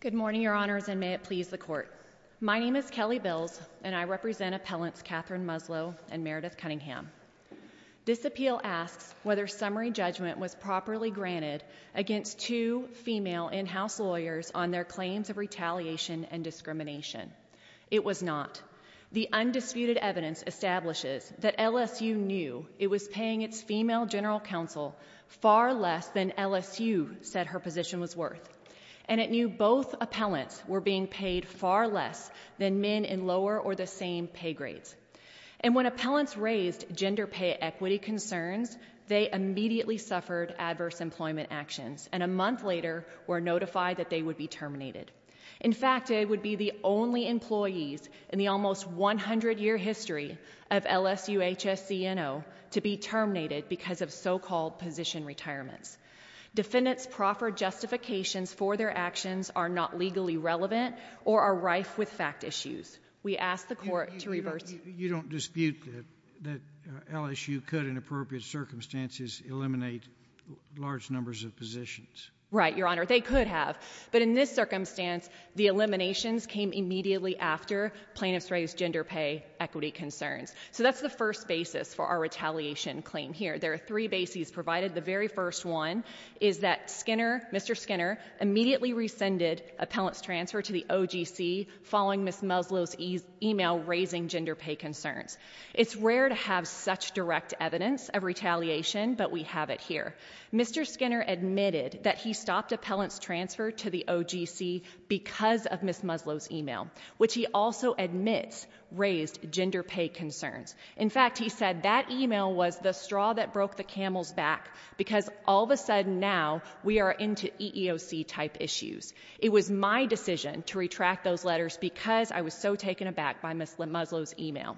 Good morning, Your Honors, and may it please the Court. My name is Kelly Bills, and I represent Appellants Catherine Muslow and Meredith Cunningham. This appeal asks whether summary judgment was properly granted against two female in-house lawyers on their claims of retaliation and discrimination. It was not. The undisputed evidence establishes that LSU knew it was paying its female general counsel far less than LSU said her position was worth, and it knew both appellants were being paid far less than men in lower or the same pay grades. And when appellants raised gender pay equity concerns, they immediately suffered adverse employment actions, and a month later were notified that they would be terminated. In fact, they would be the only employees in the almost 100-year history of LSUHSCNO to be terminated because of so-called position retirements. Defendants proffer justifications for their actions are not legally relevant or are rife with fact issues. We ask the Court to reverse this. You don't dispute that LSU could, in appropriate circumstances, eliminate large numbers of positions? Right, Your Honor. They could have. But in this circumstance, the eliminations came immediately after plaintiffs raised gender pay equity concerns. So that's the first basis for our retaliation claim here. There are three bases provided. The very first one is that Skinner, Mr. Skinner, immediately rescinded appellants' transfer to the OGC following Ms. Muslow's email raising gender pay concerns. It's rare to have such direct evidence of retaliation, but we have it here. Mr. Skinner admitted that he stopped appellants' transfer to the OGC because of Ms. Muslow's He also admits raised gender pay concerns. In fact, he said that email was the straw that broke the camel's back because all of a sudden now we are into EEOC-type issues. It was my decision to retract those letters because I was so taken aback by Ms. Muslow's email.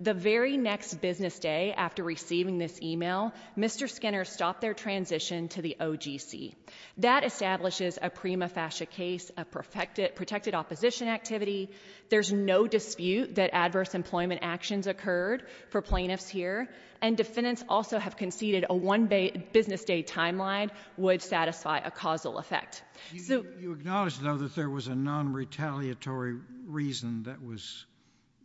The very next business day after receiving this email, Mr. Skinner stopped their transition to the OGC. That establishes a prima facie case, a protected opposition activity. There's no dispute that adverse employment actions occurred for plaintiffs here. And defendants also have conceded a one business day timeline would satisfy a causal effect. You acknowledge, though, that there was a non-retaliatory reason that was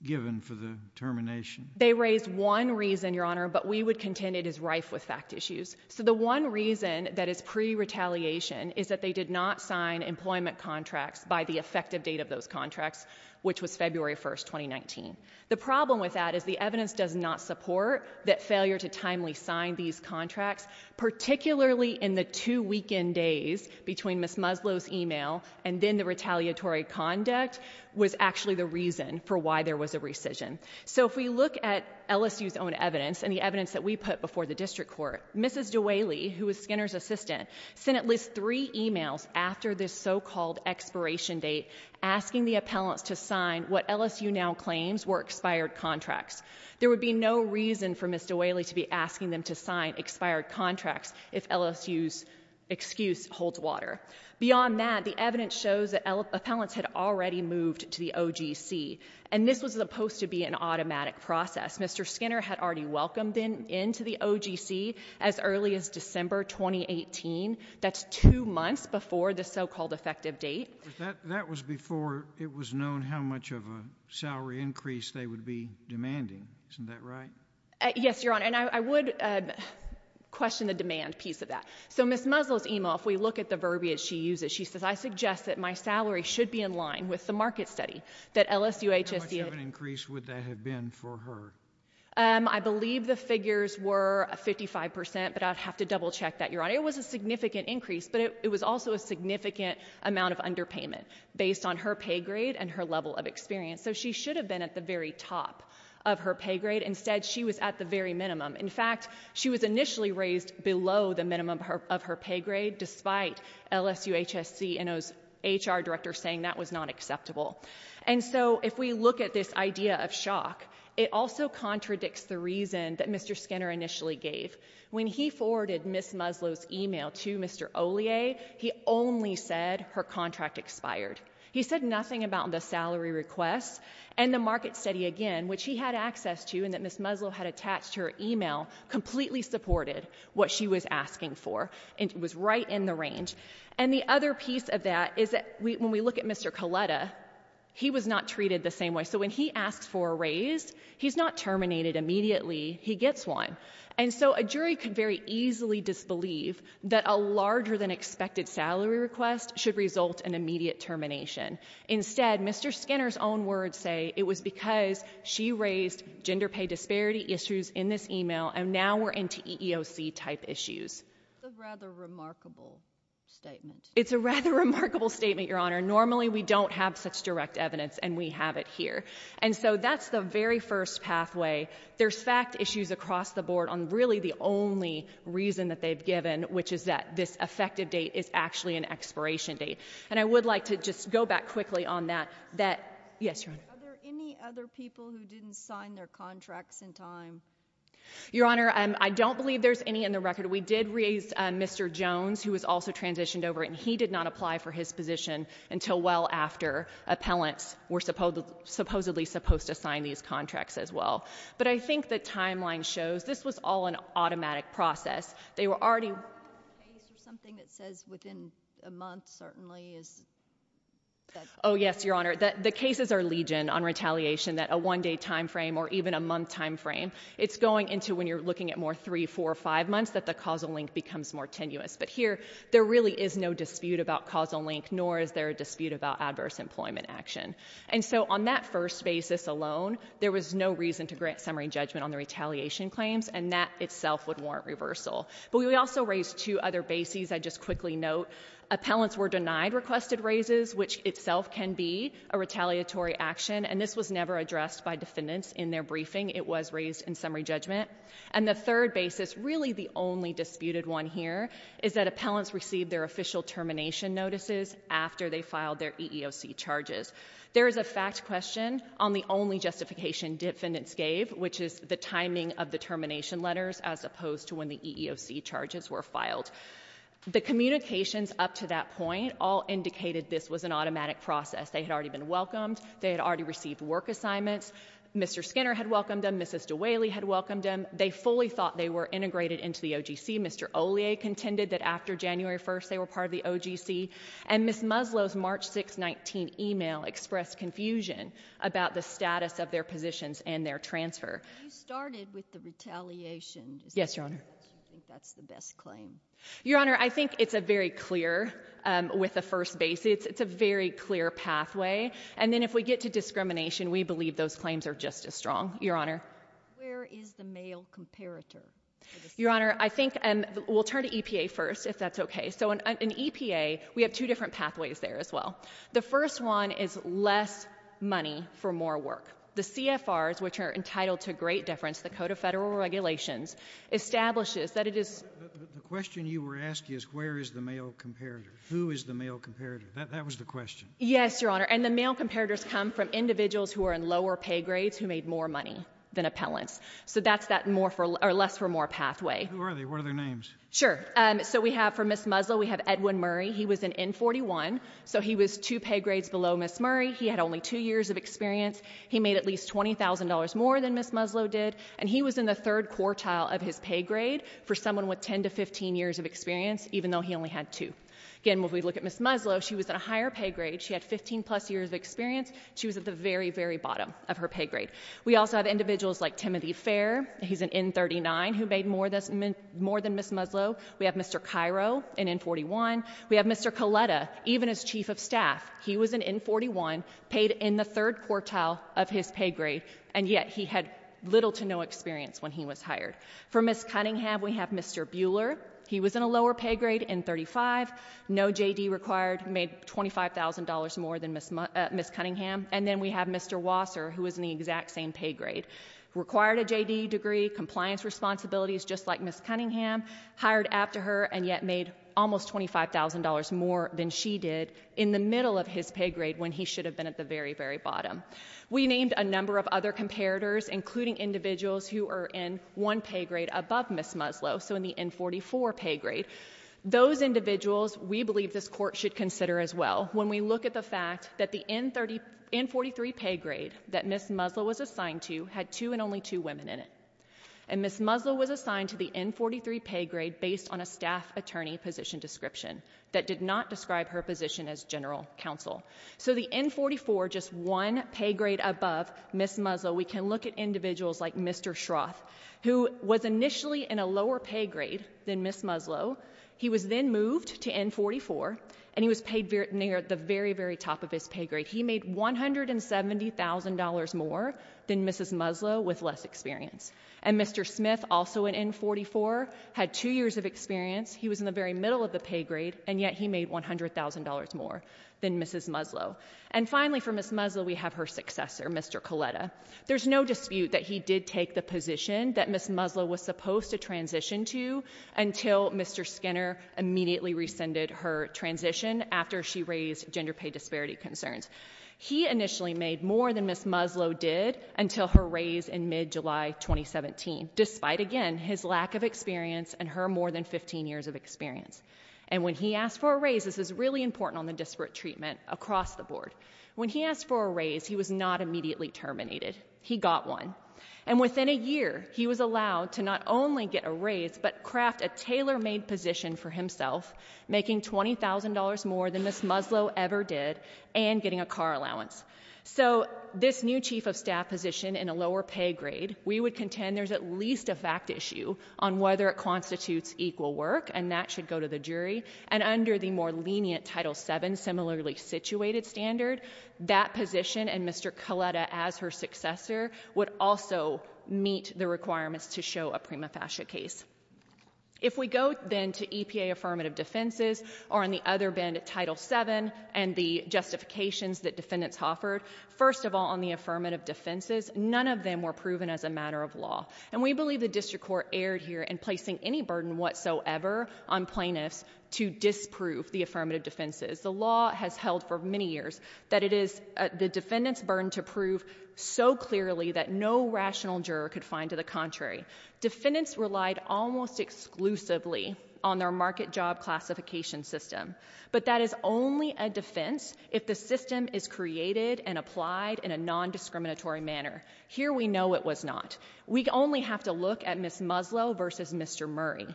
given for the termination? They raised one reason, Your Honor, but we would contend it is rife with fact issues. So the one reason that is pre-retaliation is that they did not sign employment contracts by the effective date of those contracts, which was February 1st, 2019. The problem with that is the evidence does not support that failure to timely sign these contracts, particularly in the two weekend days between Ms. Muslow's email and then the retaliatory conduct was actually the reason for why there was a rescission. So if we look at LSU's own evidence and the evidence that we put before the district court, Mrs. DeWayle, who is Skinner's assistant, sent at least three emails after this so-called expiration date asking the appellants to sign what LSU now claims were expired contracts. There would be no reason for Ms. DeWayle to be asking them to sign expired contracts if LSU's excuse holds water. Beyond that, the evidence shows that appellants had already moved to the OGC. And this was supposed to be an automatic process. Mr. Skinner had already welcomed them into the OGC as early as December 2018. That's two months before the so-called effective date. That was before it was known how much of a salary increase they would be demanding. Isn't that right? Yes, Your Honor. And I would question the demand piece of that. So Ms. Muslow's email, if we look at the verbiage she uses, she says, I suggest that my salary should be in line with the market study that LSUHSC had. What kind of an increase would that have been for her? I believe the figures were 55%, but I'd have to double check that, Your Honor. It was a significant increase, but it was also a significant amount of underpayment based on her pay grade and her level of experience. So she should have been at the very top of her pay grade. Instead, she was at the very minimum. In fact, she was initially raised below the minimum of her pay grade, despite LSUHSC and OHS HR director saying that was not acceptable. And so if we look at this idea of shock, it also contradicts the reason that Mr. Skinner initially gave. When he forwarded Ms. Muslow's email to Mr. Ollier, he only said her contract expired. He said nothing about the salary request and the market study again, which he had access to and that Ms. Muslow had attached to her email, completely supported what she was asking for and was right in the range. And the other piece of that is that when we look at Mr. Coletta, he was not treated the same way. So when he asks for a raise, he's not terminated immediately. He gets one. And so a jury could very easily disbelieve that a larger than expected salary request should result in immediate termination. Instead, Mr. Skinner's own words say it was because she raised gender pay disparity issues in this email, and now we're into EEOC type issues. It's a rather remarkable statement. It's a rather remarkable statement, Your Honor. Normally, we don't have such direct evidence, and we have it here. And so that's the very first pathway. There's fact issues across the board on really the only reason that they've given, which is that this effective date is actually an expiration date. And I would like to just go back quickly on that. Yes, Your Honor. Are there any other people who didn't sign their contracts in time? Your Honor, I don't believe there's any in the record. We did raise Mr. Jones, who was also transitioned over, and he did not apply for his position until well after appellants were supposedly supposed to sign these contracts as well. But I think the timeline shows this was all an automatic process. They were already— Is there a case or something that says within a month, certainly, is that— Oh, yes, Your Honor. The cases are legion on retaliation, that a one-day time frame or even a month time frame. It's going into when you're looking at more three, four, or five months that the causal link becomes more tenuous. But here, there really is no dispute about causal link, nor is there a dispute about adverse employment action. And so on that first basis alone, there was no reason to grant summary judgment on the retaliation claims, and that itself would warrant reversal. But we also raised two other bases. I'd just quickly note, appellants were denied requested raises, which itself can be a retaliatory action, and this was never addressed by defendants in their briefing. It was raised in summary judgment. And the third basis, really the only disputed one here, is that appellants received their official termination notices after they filed their EEOC charges. There is a fact question on the only justification defendants gave, which is the timing of the termination letters as opposed to when the EEOC charges were filed. The communications up to that point all indicated this was an automatic process. They had already been welcomed. They had already received work assignments. Mr. Skinner had welcomed them. Mrs. DeWaley had welcomed them. They fully thought they were integrated into the OGC. Mr. Ollier contended that after January 1st, they were part of the OGC. And Ms. Muslow's March 6, 19 email expressed confusion about the status of their positions and their transfer. You started with the retaliation. Yes, Your Honor. Do you think that's the best claim? Your Honor, I think it's a very clear, with the first basis, it's a very clear pathway. And then if we get to discrimination, we believe those claims are just as strong. Your Honor? Where is the male comparator? Your Honor, I think, and we'll turn to EPA first, if that's okay. So in EPA, we have two different pathways there as well. The first one is less money for more work. The CFRs, which are entitled to great deference, the Code of Federal Regulations, establishes that it is- The question you were asking is, where is the male comparator? Who is the male comparator? That was the question. Yes, Your Honor. And the male comparators come from individuals who are in lower pay grades who made more money than appellants. So that's that less for more pathway. Who are they? What are their names? Sure. So we have, for Ms. Muslow, we have Edwin Murray. He was an N41, so he was two pay grades below Ms. Murray. He had only two years of experience. He made at least $20,000 more than Ms. Muslow did. And he was in the third quartile of his pay grade for someone with 10 to 15 years of experience, even though he only had two. Again, when we look at Ms. Muslow, she was in a higher pay grade. She had 15 plus years of experience. She was at the very, very bottom of her pay grade. We also have individuals like Timothy Fair. He's an N39 who made more than Ms. Muslow. We have Mr. Cairo, an N41. We have Mr. Coletta, even as chief of staff. He was an N41, paid in the third quartile of his pay grade, and yet he had little to no experience when he was hired. For Ms. Cunningham, we have Mr. Bueller. He was in a lower pay grade, N35, no JD required, made $25,000 more than Ms. Cunningham. And then we have Mr. Wasser, who was in the exact same pay grade, required a JD degree, compliance responsibilities, just like Ms. Cunningham, hired after her, and yet made almost $25,000 more than she did in the middle of his pay grade when he should have been at the very, very bottom. We named a number of other comparators, including individuals who are in one pay grade above Ms. Muslow, so in the N44 pay grade. Those individuals, we believe this Court should consider as well when we look at the fact that the N43 pay grade that Ms. Muslow was assigned to had two and only two women in it. And Ms. Muslow was assigned to the N43 pay grade based on a staff attorney position description that did not describe her position as general counsel. So the N44, just one pay grade above Ms. Muslow, we can look at individuals like Mr. Schroth, who was initially in a lower pay grade than Ms. Muslow. He was then moved to N44, and he was paid near the very, very top of his pay grade. He made $170,000 more than Ms. Muslow with less experience. And Mr. Smith, also in N44, had two years of experience. He was in the very middle of the pay grade, and yet he made $100,000 more than Ms. Muslow. And finally for Ms. Muslow, we have her successor, Mr. Coletta. There's no dispute that he did take the position that Ms. Muslow was supposed to transition to until Mr. Skinner immediately rescinded her transition after she raised gender pay disparity concerns. He initially made more than Ms. Muslow did until her raise in mid-July 2017, despite, again, his lack of experience and her more than 15 years of experience. And when he asked for a raise, this is really important on the disparate treatment across the board. When he asked for a raise, he was not immediately terminated. He got one. And within a year, he was allowed to not only get a raise, but craft a tailor-made position for himself, making $20,000 more than Ms. Muslow ever did, and getting a car allowance. So this new chief of staff position in a lower pay grade, we would contend there's at least a fact issue on whether it constitutes equal work, and that should go to the jury. And under the more lenient Title VII similarly situated standard, that position and Mr. Coletta as her successor would also meet the requirements to show a prima facie case. If we go then to EPA affirmative defenses, or on the other end, Title VII and the justifications that defendants offered, first of all on the affirmative defenses, none of them were proven as a matter of law. And we believe the district court erred here in placing any burden whatsoever on plaintiffs to disprove the affirmative defenses. The law has held for many years that it is the defendant's burden to prove so clearly that no rational juror could find to the contrary. Defendants relied almost exclusively on their market job classification system. But that is only a defense if the system is created and applied in a non-discriminatory manner. Here we know it was not. We only have to look at Ms. Muslow versus Mr. Murray.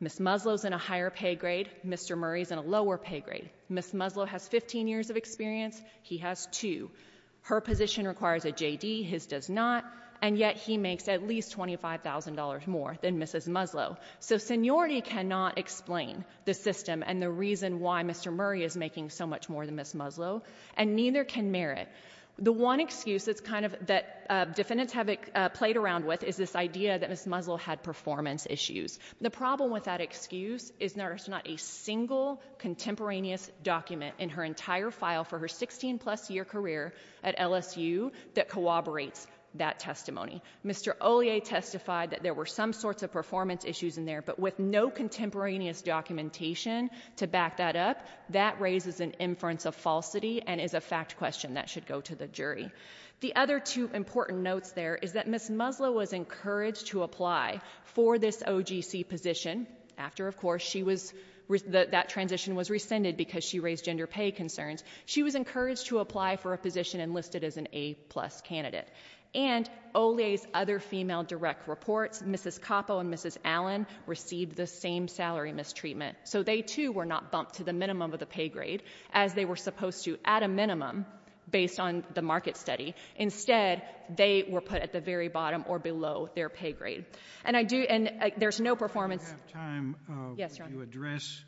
Ms. Muslow's in a higher pay grade, Mr. Murray's in a lower pay grade. Ms. Muslow has 15 years of experience, he has two. Her position requires a JD, his does not, and yet he makes at least $25,000 more than Mrs. Muslow. So seniority cannot explain the system and the reason why Mr. Murray is making so much more than Ms. Muslow. And neither can merit. The one excuse that defendants have played around with is this idea that Ms. Muslow had performance issues. The problem with that excuse is there's not a single contemporaneous document in her entire file for her 16 plus year career at LSU that corroborates that testimony. Mr. Ollier testified that there were some sorts of performance issues in there, but with no contemporaneous documentation to back that up, that raises an inference of falsity and is a fact question that should go to the jury. The other two important notes there is that Ms. Muslow was encouraged to apply for this OGC position. After, of course, that transition was rescinded because she raised gender pay concerns. She was encouraged to apply for a position enlisted as an A plus candidate. And Ollier's other female direct reports, Mrs. Coppo and Mrs. Allen received the same salary mistreatment. So they too were not bumped to the minimum of the pay grade as they were supposed to at a minimum based on the market study. Instead, they were put at the very bottom or below their pay grade. And I do, and there's no performance- I don't have time to address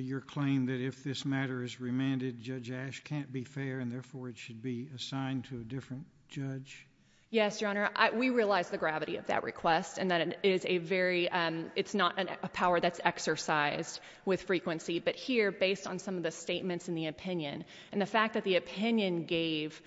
your claim that if this matter is remanded, Judge Ash can't be fair and therefore it should be assigned to a different judge. Yes, Your Honor. We realize the gravity of that request and that it is a very, it's not a power that's exercised with frequency. But here, based on some of the statements in the opinion, and the fact that the opinion gave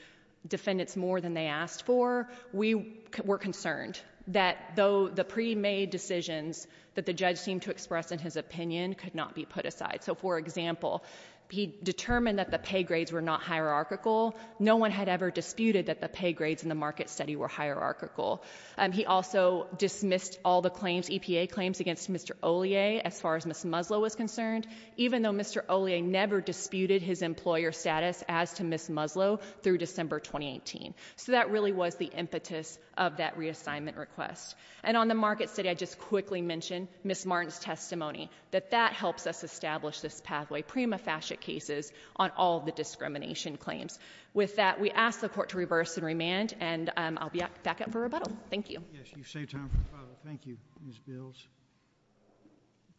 defendants more than they asked for, we were concerned that though the pre-made decisions that the judge seemed to express in his opinion could not be put aside. So for example, he determined that the pay grades were not hierarchical. No one had ever disputed that the pay grades in the market study were hierarchical. And he also dismissed all the claims, EPA claims against Mr. Ollier as far as Ms. Muslow was concerned, even though Mr. Ollier never disputed his employer status as to Ms. Muslow through December 2018, so that really was the impetus of that reassignment request. And on the market study, I just quickly mention Ms. Martin's testimony, that that helps us establish this pathway. The prima facie cases on all the discrimination claims. With that, we ask the court to reverse and remand, and I'll be back up for rebuttal. Thank you. Yes, you've saved time for rebuttal. Thank you, Ms. Bills.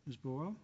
Ms. Boyle?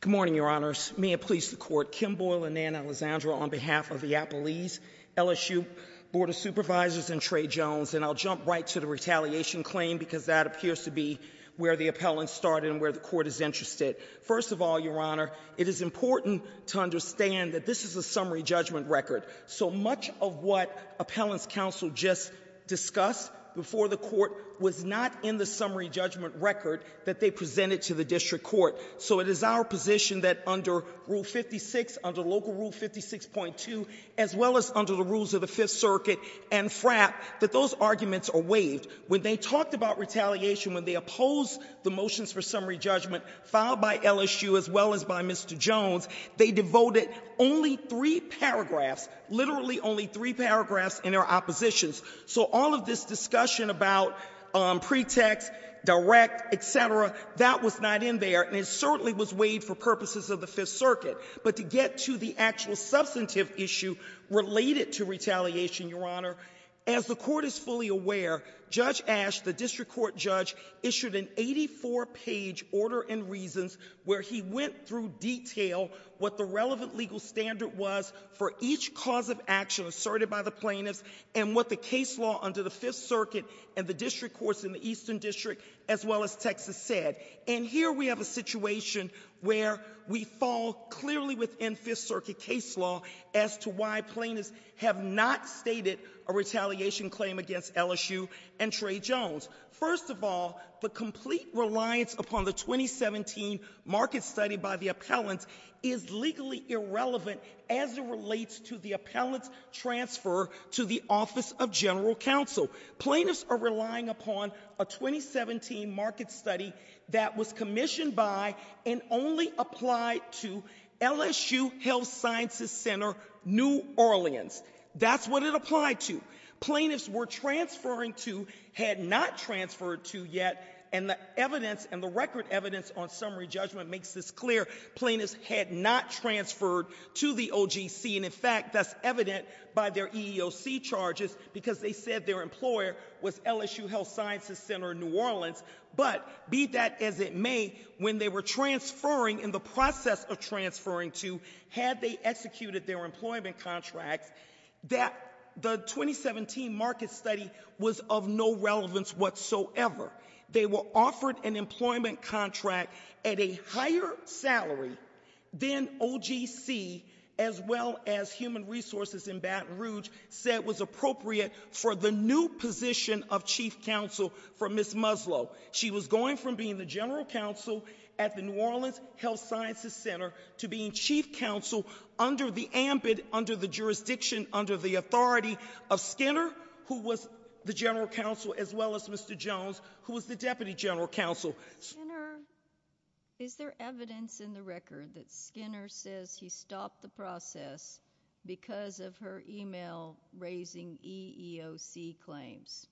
Good morning, your honors. May it please the court, Kim Boyle and Nan Alessandro on behalf of the Appalese LSU Board of Supervisors and Trey Jones, and I'll jump right to the retaliation claim because that appears to be where the appellant started and where the court is interested. First of all, your honor, it is important to understand that this is a summary judgment record. So much of what appellant's counsel just discussed before the court was not in the summary judgment record that they presented to the district court. So it is our position that under rule 56, under local rule 56.2, as well as under the rules of the Fifth Circuit and FRAP, that those arguments are waived. When they talked about retaliation, when they opposed the motions for summary judgment filed by LSU as well as by Mr. Jones, they devoted only three paragraphs, literally only three paragraphs, in their oppositions. So all of this discussion about pretext, direct, etc., that was not in there. And it certainly was waived for purposes of the Fifth Circuit. But to get to the actual substantive issue related to retaliation, your honor, as the court is fully aware, Judge Ash, the district court judge, issued an 84 page order and reasons where he went through detail what the relevant legal standard was for each cause of action asserted by the plaintiffs and what the case law under the Fifth Circuit and the district courts in the Eastern District as well as Texas said. And here we have a situation where we fall clearly within Fifth Circuit case law as to why plaintiffs have not stated a retaliation claim against LSU and Trey Jones. First of all, the complete reliance upon the 2017 market study by the appellant is legally irrelevant as it relates to the appellant's transfer to the Office of General Counsel. Plaintiffs are relying upon a 2017 market study that was commissioned by and only applied to LSU Health Sciences Center, New Orleans. That's what it applied to. Plaintiffs were transferring to, had not transferred to yet. And the evidence and the record evidence on summary judgment makes this clear. Plaintiffs had not transferred to the OGC and in fact, that's evident by their EEOC charges because they said their employer was LSU Health Sciences Center, New Orleans. But be that as it may, when they were transferring, in the process of transferring to, had they executed their employment contracts, that the 2017 market study was of no relevance whatsoever. They were offered an employment contract at a higher salary than OGC, as well as Human Resources in Baton Rouge said was appropriate for the new position of Chief Counsel for Ms. Muslow. She was going from being the General Counsel at the New Orleans Health Sciences Center, to being Chief Counsel under the ambit, under the jurisdiction, under the authority of Skinner, who was the General Counsel, as well as Mr. Jones, who was the Deputy General Counsel. Is there evidence in the record that Skinner says he stopped the process because of her email raising EEOC claims?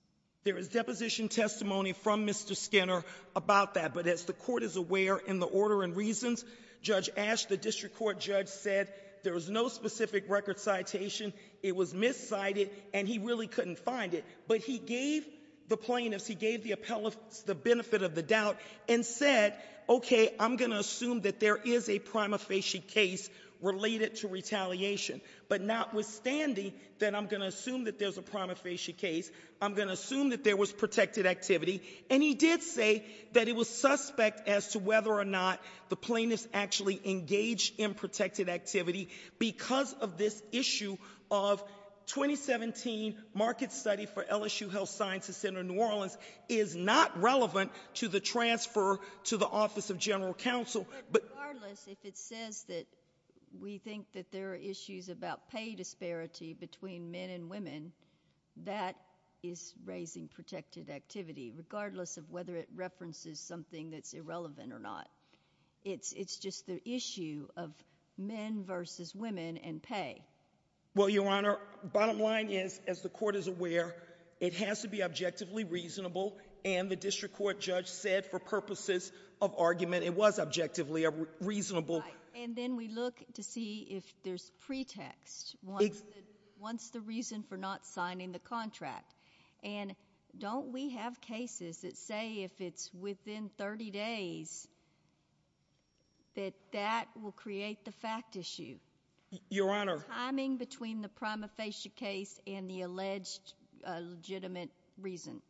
There is deposition testimony from Mr. Skinner about that. But as the court is aware, in the order and reasons, Judge Asch, the district court judge said, there was no specific record citation, it was miscited, and he really couldn't find it. But he gave the plaintiffs, he gave the appellants the benefit of the doubt and said, okay, I'm going to assume that there is a prima facie case related to retaliation. But notwithstanding that I'm going to assume that there's a prima facie case, I'm going to assume that there was protected activity. And he did say that it was suspect as to whether or not the plaintiffs actually engaged in protected activity. Because of this issue of 2017 market study for general counsel, but- Regardless, if it says that we think that there are issues about pay disparity between men and women, that is raising protected activity, regardless of whether it references something that's irrelevant or not. It's just the issue of men versus women and pay. Well, Your Honor, bottom line is, as the court is aware, it has to be objectively reasonable. And the district court judge said for purposes of argument, it was objectively reasonable. And then we look to see if there's pretext, what's the reason for not signing the contract? And don't we have cases that say if it's within 30 days, that that will create the fact issue? Your Honor. Timing between the prima facie case and the alleged legitimate reason.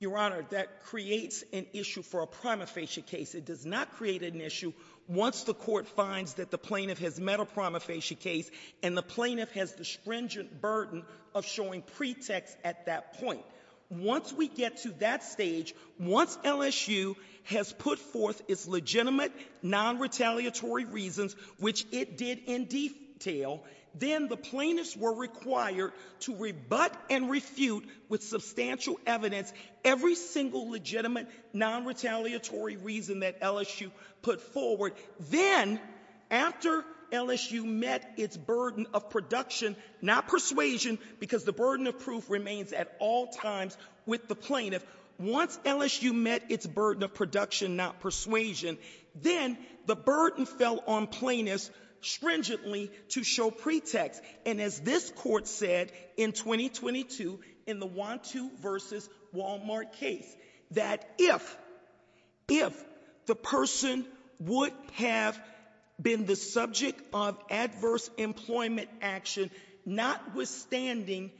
Your Honor, that creates an issue for a prima facie case. It does not create an issue once the court finds that the plaintiff has met a prima facie case and the plaintiff has the stringent burden of showing pretext at that point. Once we get to that stage, once LSU has put forth its legitimate, non-retaliatory reasons, which it did in detail, then the plaintiffs were required to rebut and refute with substantial evidence every single legitimate, non-retaliatory reason that LSU put forward. Then, after LSU met its burden of production, not persuasion, because the burden of proof remains at all times with the plaintiff. Once LSU met its burden of production, not persuasion, then the burden fell on plaintiffs stringently to show pretext. And as this court said in 2022, in the Wanto versus Walmart case, that if the person would have been the subject of adverse employment action, notwithstanding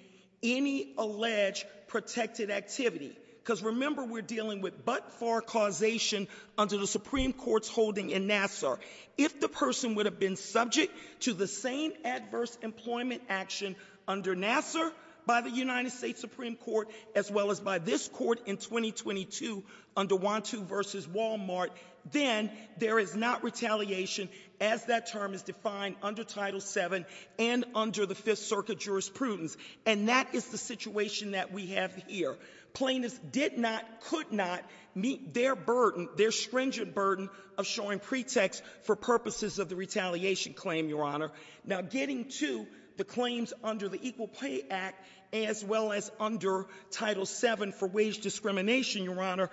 any alleged protected activity, because remember we're dealing with but-for causation under the Supreme Court's holding in Nassar. If the person would have been subject to the same adverse employment action under Nassar, by the United States Supreme Court, as well as by this court in 2022 under Wanto versus Walmart, then there is not retaliation as that term is defined under Title VII and under the Fifth Circuit jurisprudence, and that is the situation that we have here. Plaintiffs did not, could not meet their burden, their stringent burden of showing pretext for purposes of the retaliation claim, Your Honor. Now, getting to the claims under the Equal Pay Act, as well as under Title VII for wage discrimination, Your Honor,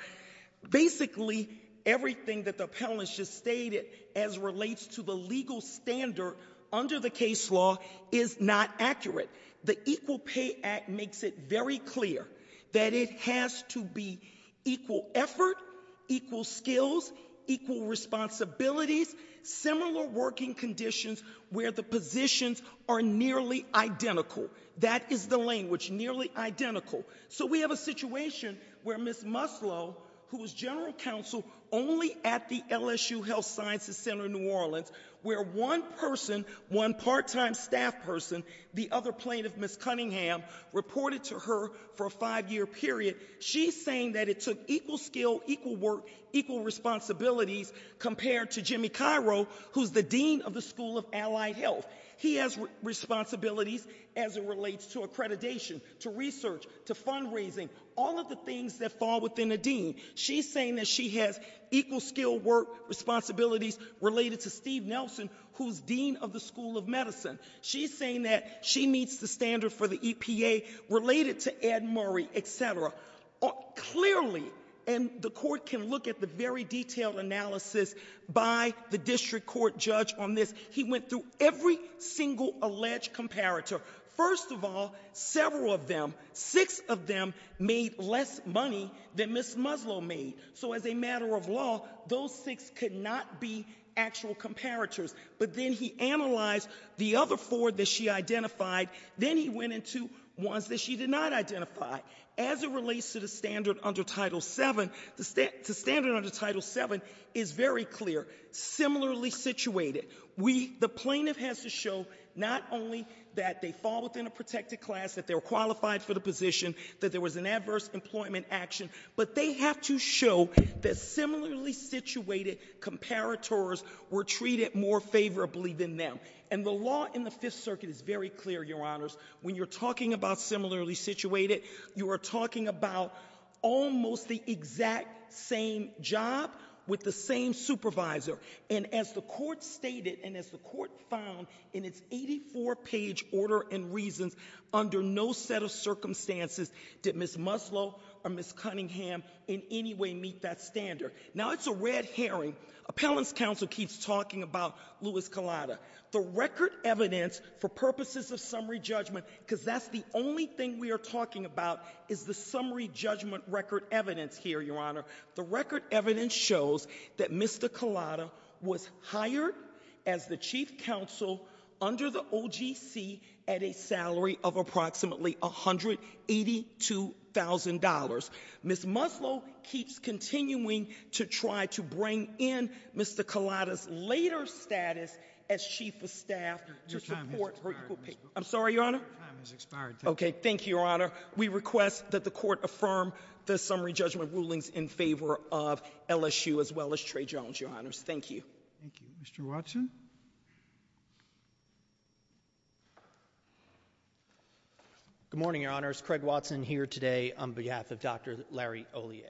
basically everything that the appellants just stated as relates to the legal standard under the case law is not accurate. The Equal Pay Act makes it very clear that it has to be equal effort, equal skills, equal responsibilities, similar working conditions where the positions are nearly identical. That is the language, nearly identical. So we have a situation where Ms. Muslow, who was general counsel only at the LSU Health Sciences Center in New Orleans, where one person, one part-time staff person, the other plaintiff, Ms. Cunningham, reported to her for a five-year period. She's saying that it took equal skill, equal work, equal responsibilities, compared to Jimmy Cairo, who's the dean of the School of Allied Health. He has responsibilities as it relates to accreditation, to research, to fundraising, all of the things that fall within a dean. She's saying that she has equal skill, work, responsibilities related to Steve Nelson, who's dean of the School of Medicine. She's saying that she meets the standard for the EPA related to Ed Murray, etc. Clearly, and the court can look at the very detailed analysis by the district court judge on this. He went through every single alleged comparator. First of all, several of them, six of them made less money than Ms. Muslow made. So as a matter of law, those six could not be actual comparators. But then he analyzed the other four that she identified, then he went into ones that she did not identify. As it relates to the standard under Title VII, the standard under Title VII is very clear, similarly situated. The plaintiff has to show not only that they fall within a protected class, that they're qualified for the position, that there was an adverse employment action. But they have to show that similarly situated comparators were treated more favorably than them. And the law in the Fifth Circuit is very clear, your honors. When you're talking about similarly situated, you are talking about almost the exact same job with the same supervisor. And as the court stated, and as the court found in its 84 page order and reasons, under no set of circumstances did Ms. Muslow or Ms. Cunningham in any way meet that standard. Now it's a red herring. Appellant's counsel keeps talking about Louis Collada. The record evidence for purposes of summary judgment, because that's the only thing we are talking about, is the summary judgment record evidence here, your honor. The record evidence shows that Mr. Collada was hired as the chief counsel under the OGC at a salary of approximately $182,000. Ms. Muslow keeps continuing to try to bring in Mr. Collada's later status as chief of staff to support her- Your time has expired, Ms. Booker. I'm sorry, your honor? Your time has expired, thank you. Okay, thank you, your honor. We request that the court affirm the summary judgment rulings in favor of LSU as well as Trey Jones, your honors. Thank you. Thank you. Mr. Watson? Good morning, your honors. Craig Watson here today on behalf of Dr. Larry Ollier.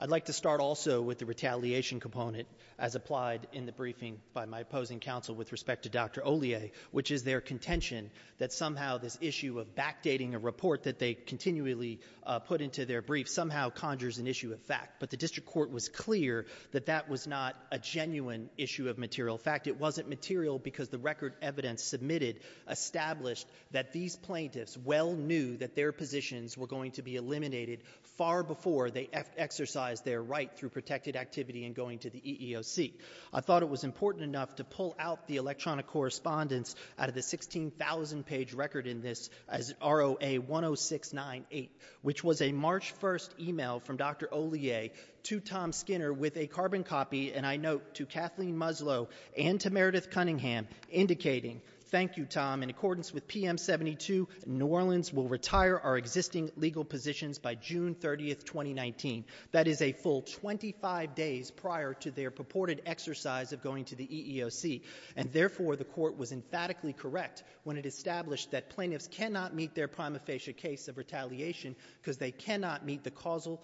I'd like to start also with the retaliation component as applied in the briefing by my opposing counsel with respect to Dr. Ollier, which is their contention that somehow this issue of backdating a report that they continually put into their brief somehow conjures an issue of fact. But the district court was clear that that was not a genuine issue of material fact. It wasn't material because the record evidence submitted established that these plaintiffs well knew that their positions were going to be eliminated far before they exercised their right through protected activity and going to the EEOC. I thought it was important enough to pull out the electronic correspondence out of the 16,000 page record in this as ROA 10698, which was a March 1st email from Dr. Ollier to Tom Skinner with a carbon copy. And I note to Kathleen Muslow and to Meredith Cunningham indicating, thank you Tom, in accordance with PM 72, New Orleans will retire our existing legal positions by June 30th, 2019. That is a full 25 days prior to their purported exercise of going to the EEOC. And therefore the court was emphatically correct when it established that plaintiffs cannot meet their prima facie case of retaliation because they cannot meet the causal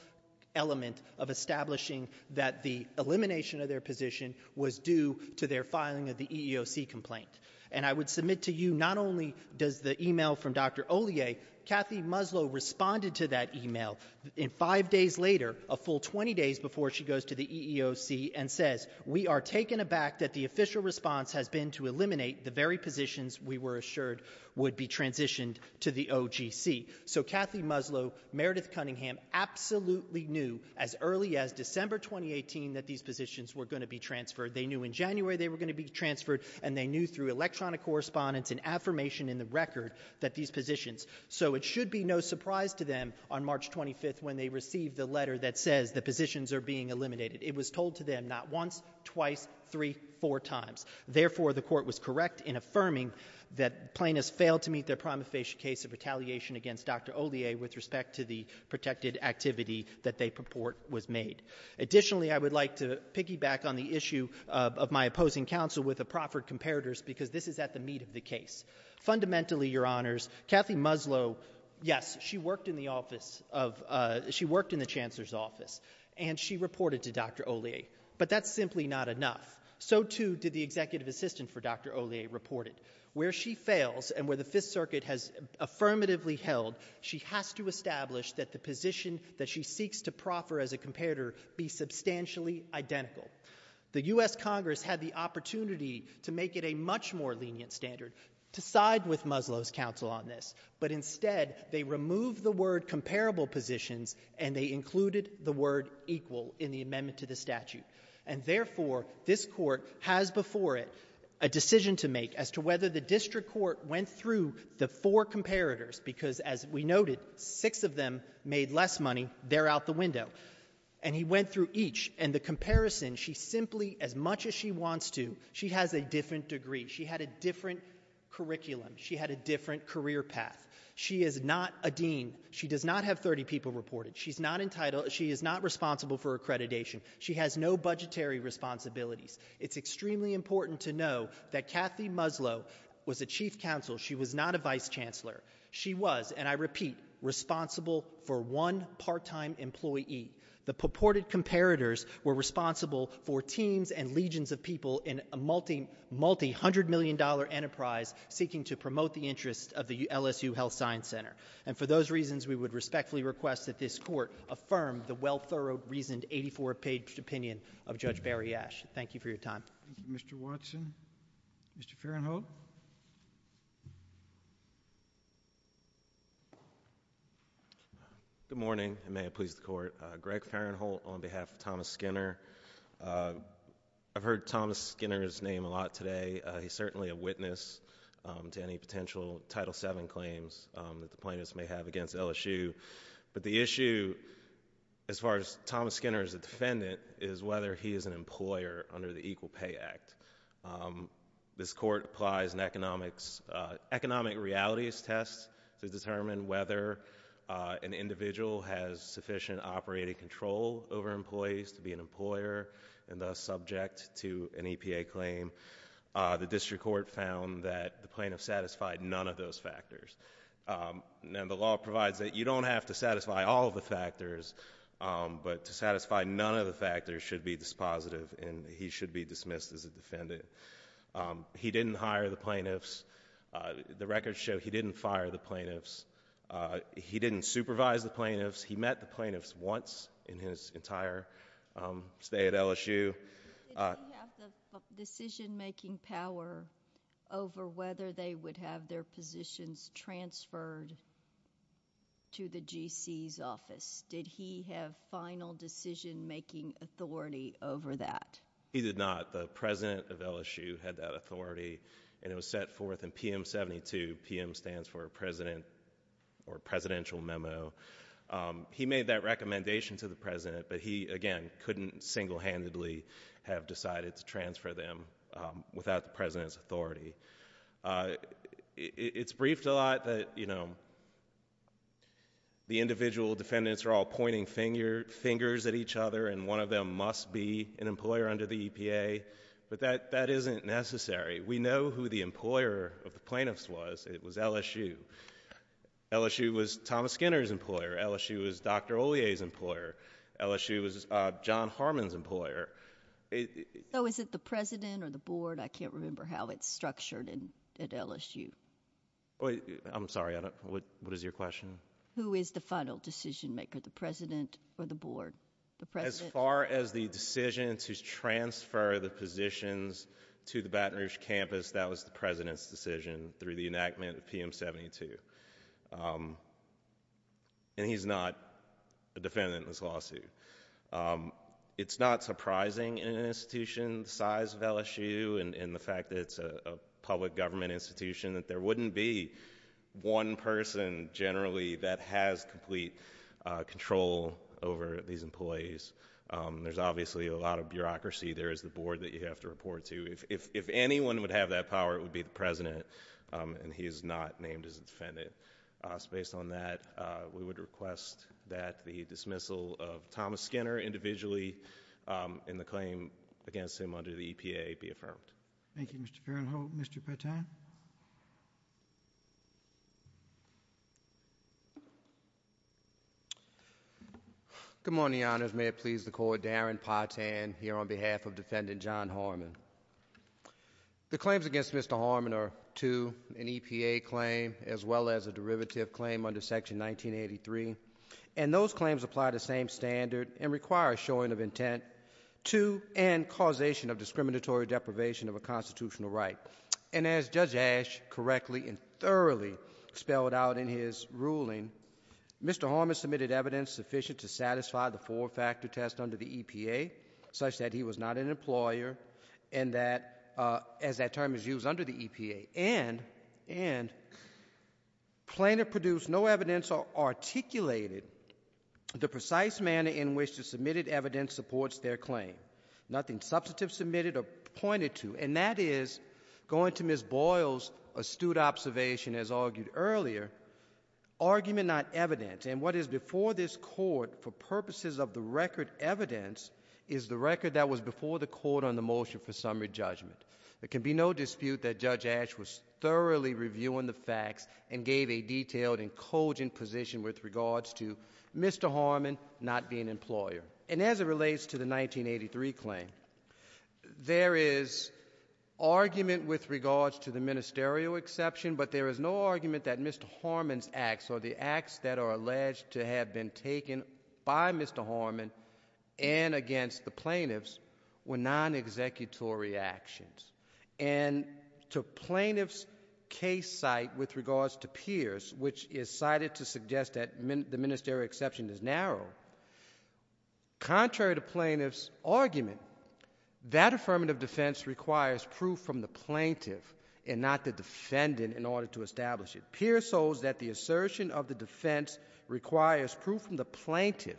element of establishing that the elimination of their position was due to their filing of the EEOC complaint. And I would submit to you, not only does the email from Dr. Ollier, Kathy Muslow responded to that email in five days later, a full 20 days before she goes to the EEOC and says, we are taken aback that the official response has been to eliminate the very positions we were assured would be transitioned to the OGC. So Kathy Muslow, Meredith Cunningham absolutely knew as early as December 2018 that these positions were going to be transferred. They knew in January they were going to be transferred and they knew through electronic correspondence and affirmation in the record that these positions. So it should be no surprise to them on March 25th when they receive the letter that says the positions are being eliminated. It was told to them not once, twice, three, four times. Therefore, the court was correct in affirming that plaintiffs failed to meet their prima facie case of retaliation against Dr. Ollier with respect to the protected activity that they purport was made. Additionally, I would like to piggyback on the issue of my opposing counsel with the proffered comparators because this is at the meat of the case. Fundamentally, your honors, Kathy Muslow, yes, she worked in the office of, she worked in the chancellor's office and she reported to Dr. Ollier, but that's simply not enough. So too did the executive assistant for Dr. Ollier reported. Where she fails and where the Fifth Circuit has affirmatively held, she has to establish that the position that she seeks to proffer as a comparator be substantially identical. The US Congress had the opportunity to make it a much more lenient standard to side with Muslow's counsel on this. But instead, they removed the word comparable positions and they included the word equal in the amendment to the statute. And therefore, this court has before it a decision to make as to whether the district court went through the four comparators. Because as we noted, six of them made less money, they're out the window. And he went through each, and the comparison, she simply, as much as she wants to, she has a different degree. She had a different curriculum, she had a different career path. She is not a dean, she does not have 30 people reported, she is not responsible for accreditation. She has no budgetary responsibilities. It's extremely important to know that Kathy Muslow was a chief counsel, she was not a vice chancellor. She was, and I repeat, responsible for one part-time employee. The purported comparators were responsible for teams and legions of people in a multi-hundred million dollar enterprise, seeking to promote the interest of the LSU Health Science Center. And for those reasons, we would respectfully request that this court affirm the well-thorough reasoned 84-page opinion of Judge Barry Ashe. Thank you for your time. Thank you, Mr. Watson. Mr. Farenholt? Good morning, and may it please the court. Greg Farenholt on behalf of Thomas Skinner. I've heard Thomas Skinner's name a lot today. He's certainly a witness to any potential Title VII claims that the plaintiffs may have against LSU. But the issue, as far as Thomas Skinner as a defendant, is whether he is an employer under the Equal Pay Act. This court applies an economic realities test to determine whether an individual has sufficient operating control over employees to be an employer and thus subject to an EPA claim. The district court found that the plaintiff satisfied none of those factors. And the law provides that you don't have to satisfy all of the factors, but to satisfy none of the factors should be dispositive and he should be dismissed as a defendant. He didn't hire the plaintiffs. The records show he didn't fire the plaintiffs. He didn't supervise the plaintiffs. He met the plaintiffs once in his entire stay at LSU. Did he have the decision making power over whether they would have their positions transferred to the GC's office? Did he have final decision making authority over that? He did not. The President of LSU had that authority and it was set forth in PM 72. PM stands for President or Presidential Memo. He made that recommendation to the President, but he, again, couldn't single handedly have decided to transfer them without the President's authority. It's briefed a lot that the individual defendants are all pointing fingers at each other and one of them must be an employer under the EPA, but that isn't necessary. We know who the employer of the plaintiffs was. It was LSU. LSU was Thomas Skinner's employer. LSU was Dr. Olier's employer. LSU was John Harmon's employer. So is it the President or the Board? I can't remember how it's structured at LSU. I'm sorry, what is your question? Who is the final decision maker, the President or the Board? The President? As far as the decision to transfer the positions to the Baton Rouge campus, that was the President's decision through the enactment of PM 72. And he's not a defendant in this lawsuit. It's not surprising in an institution the size of LSU and the fact that it's a public government institution that there wouldn't be one person generally that has complete control over these employees. There's obviously a lot of bureaucracy there as the Board that you have to report to. If anyone would have that power, it would be the President. And he is not named as a defendant. So based on that, we would request that the dismissal of Thomas Skinner individually in the claim against him under the EPA be affirmed. Thank you, Mr. Farrell-Holt. Mr. Patan? Good morning, Your Honors. May it please the Court, Darren Patan here on behalf of Defendant John Harmon. The claims against Mr. Harmon are two, an EPA claim, as well as a derivative claim under Section 1983. And those claims apply the same standard and require a showing of intent to end causation of discriminatory deprivation of a constitutional right. And as Judge Ash correctly and thoroughly spelled out in his ruling, Mr. Harmon submitted evidence sufficient to satisfy the four factor test under the EPA such that he was not an employer. And that, as that term is used, under the EPA. And plaintiff produced no evidence or articulated the precise manner in which the submitted evidence supports their claim. Nothing substantive submitted or pointed to. And that is, going to Ms. Boyle's astute observation as argued earlier, argument not evidence, and what is before this court for purposes of the record evidence is the record that was before the court on the motion for summary judgment. There can be no dispute that Judge Ash was thoroughly reviewing the facts and gave a detailed and cogent position with regards to Mr. Harmon not being an employer. And as it relates to the 1983 claim, there is argument with regards to the ministerial exception. But there is no argument that Mr. Harmon's acts or the acts that are alleged to have been taken by Mr. Harmon. And against the plaintiffs were non-executory actions. And to plaintiff's case site with regards to Pierce, which is cited to suggest that the ministerial exception is narrow. Contrary to plaintiff's argument, that affirmative defense requires proof from the plaintiff and not the defendant in order to establish it. Pierce holds that the assertion of the defense requires proof from the plaintiff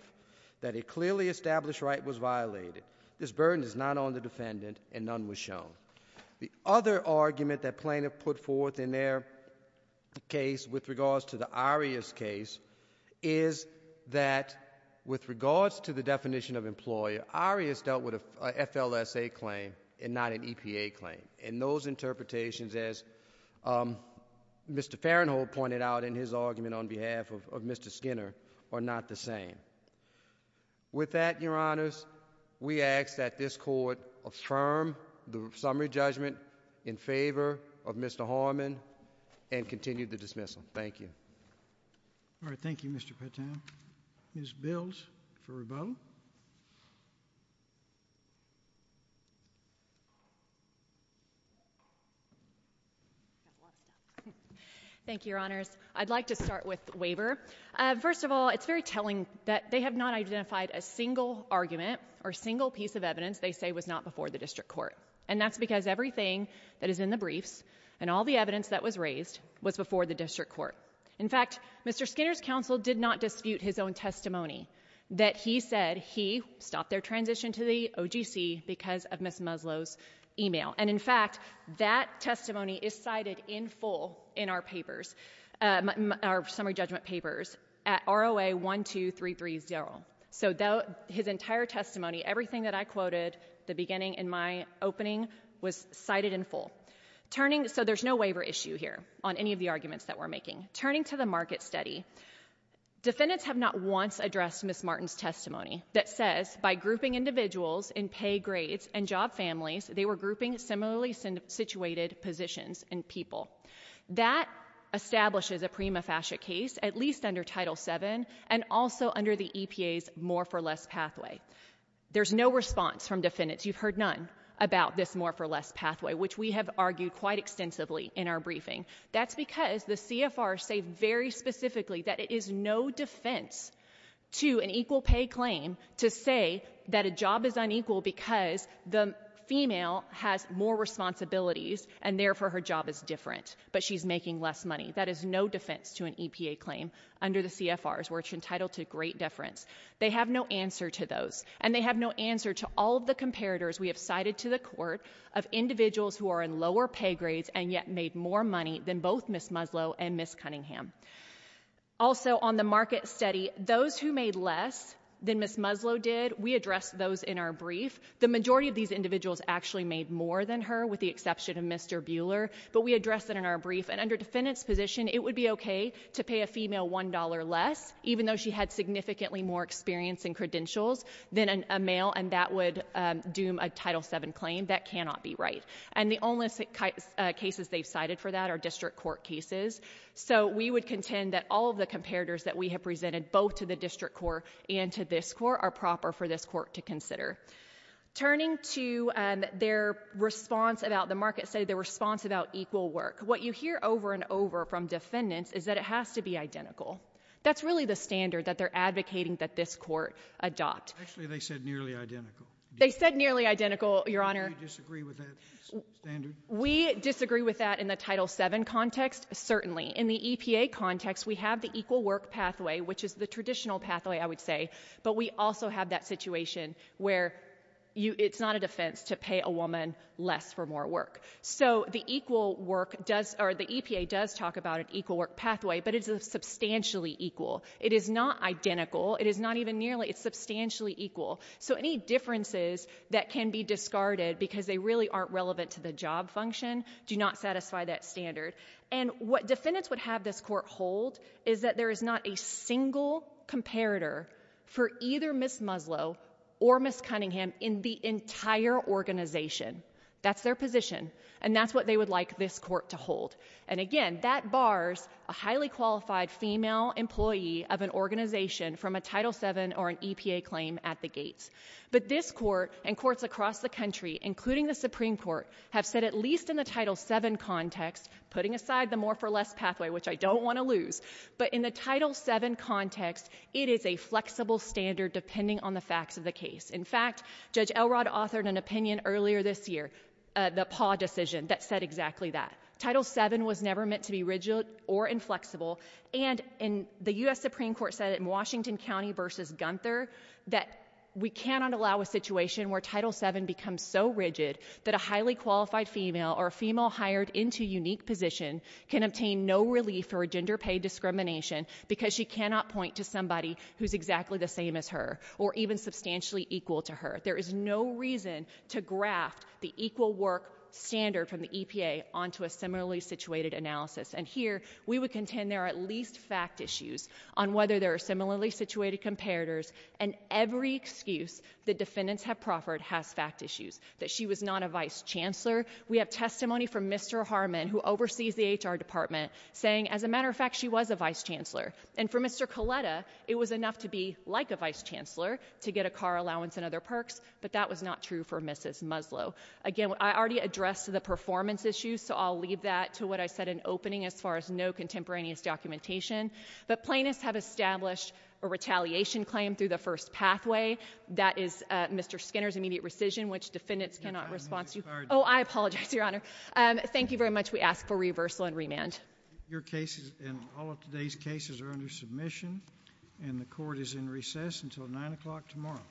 that a clearly established right was violated. This burden is not on the defendant and none was shown. The other argument that plaintiff put forth in their case with regards to the Arias case is that with regards to the definition of employer, Arias dealt with a FLSA claim and not an EPA claim. And those interpretations, as Mr. Farenthold pointed out in his argument on behalf of Mr. Skinner, are not the same. With that, your honors, we ask that this court affirm the summary judgment in favor of Mr. Harmon and continue the dismissal. Thank you. All right, thank you, Mr. Patel. Ms. Bills for rebuttal. Thank you, your honors. I'd like to start with waiver. First of all, it's very telling that they have not identified a single argument or single piece of evidence they say was not before the district court. And that's because everything that is in the briefs and all the evidence that was raised was before the district court. In fact, Mr. Skinner's counsel did not dispute his own testimony that he said he stopped their transition to the OGC because of Ms. Muslow's email. And in fact, that testimony is cited in full in our papers, our summary judgment papers at ROA 12330. So his entire testimony, everything that I quoted, the beginning and my opening was cited in full. So there's no waiver issue here on any of the arguments that we're making. Turning to the market study, defendants have not once addressed Ms. Martin's testimony that says by grouping individuals in pay grades and job families, they were grouping similarly situated positions in people. That establishes a prima facie case at least under Title VII and also under the EPA's more for less pathway. There's no response from defendants. You've heard none about this more for less pathway, which we have argued quite extensively in our briefing. That's because the CFR say very specifically that it is no defense to an equal pay claim to say that a job is unequal because the female has more responsibilities and therefore her job is different. But she's making less money. That is no defense to an EPA claim under the CFRs where it's entitled to great deference. They have no answer to those. And they have no answer to all of the comparators we have cited to the court of individuals who are in lower pay grades and yet made more money than both Ms. Muslow and Ms. Cunningham. Also on the market study, those who made less than Ms. Muslow did, we addressed those in our brief. The majority of these individuals actually made more than her, with the exception of Mr. Bueller, but we addressed it in our brief. And under defendant's position, it would be okay to pay a female $1 less, even though she had significantly more experience and credentials than a male, and that would doom a Title VII claim. That cannot be right. And the only cases they've cited for that are district court cases. So we would contend that all of the comparators that we have presented both to the district court and to this court are proper for this court to consider. Turning to their response about, the market study, their response about equal work. What you hear over and over from defendants is that it has to be identical. That's really the standard that they're advocating that this court adopt. Actually, they said nearly identical. They said nearly identical, Your Honor. Do you disagree with that standard? We disagree with that in the Title VII context, certainly. In the EPA context, we have the equal work pathway, which is the traditional pathway, I would say. But we also have that situation where it's not a defense to pay a woman less for more work. So the EPA does talk about an equal work pathway, but it's a substantially equal. It is not identical, it is not even nearly, it's substantially equal. So any differences that can be discarded because they really aren't relevant to the job function do not satisfy that standard. And what defendants would have this court hold is that there is not a single comparator for either Ms. Muslow or Ms. Cunningham in the entire organization. That's their position, and that's what they would like this court to hold. And again, that bars a highly qualified female employee of an organization from a Title VII or an EPA claim at the gates. But this court and courts across the country, including the Supreme Court, have said at least in the Title VII context, putting aside the more for less pathway, which I don't want to lose, but in the Title VII context, it is a flexible standard depending on the facts of the case. In fact, Judge Elrod authored an opinion earlier this year, the PAW decision, that said exactly that. Title VII was never meant to be rigid or inflexible. And the US Supreme Court said it in Washington County versus Gunther, that we cannot allow a situation where Title VII becomes so rigid that a highly qualified female or a female hired into a unique position can obtain no relief for a gender pay discrimination. Because she cannot point to somebody who's exactly the same as her, or even substantially equal to her. There is no reason to graft the equal work standard from the EPA onto a similarly situated analysis. And here, we would contend there are at least fact issues on whether there are similarly situated comparators. And every excuse the defendants have proffered has fact issues, that she was not a vice chancellor. We have testimony from Mr. Harmon, who oversees the HR department, saying, as a matter of fact, she was a vice chancellor. And for Mr. Coletta, it was enough to be like a vice chancellor to get a car allowance and other perks. But that was not true for Mrs. Muslow. Again, I already addressed the performance issues, so I'll leave that to what I said in opening as far as no contemporaneous documentation. But plaintiffs have established a retaliation claim through the first pathway. That is Mr. Skinner's immediate rescission, which defendants cannot respond to. I apologize, Your Honor. Thank you very much. We ask for reversal and remand. Your cases and all of today's cases are under submission, and the court is in recess until 9 o'clock tomorrow.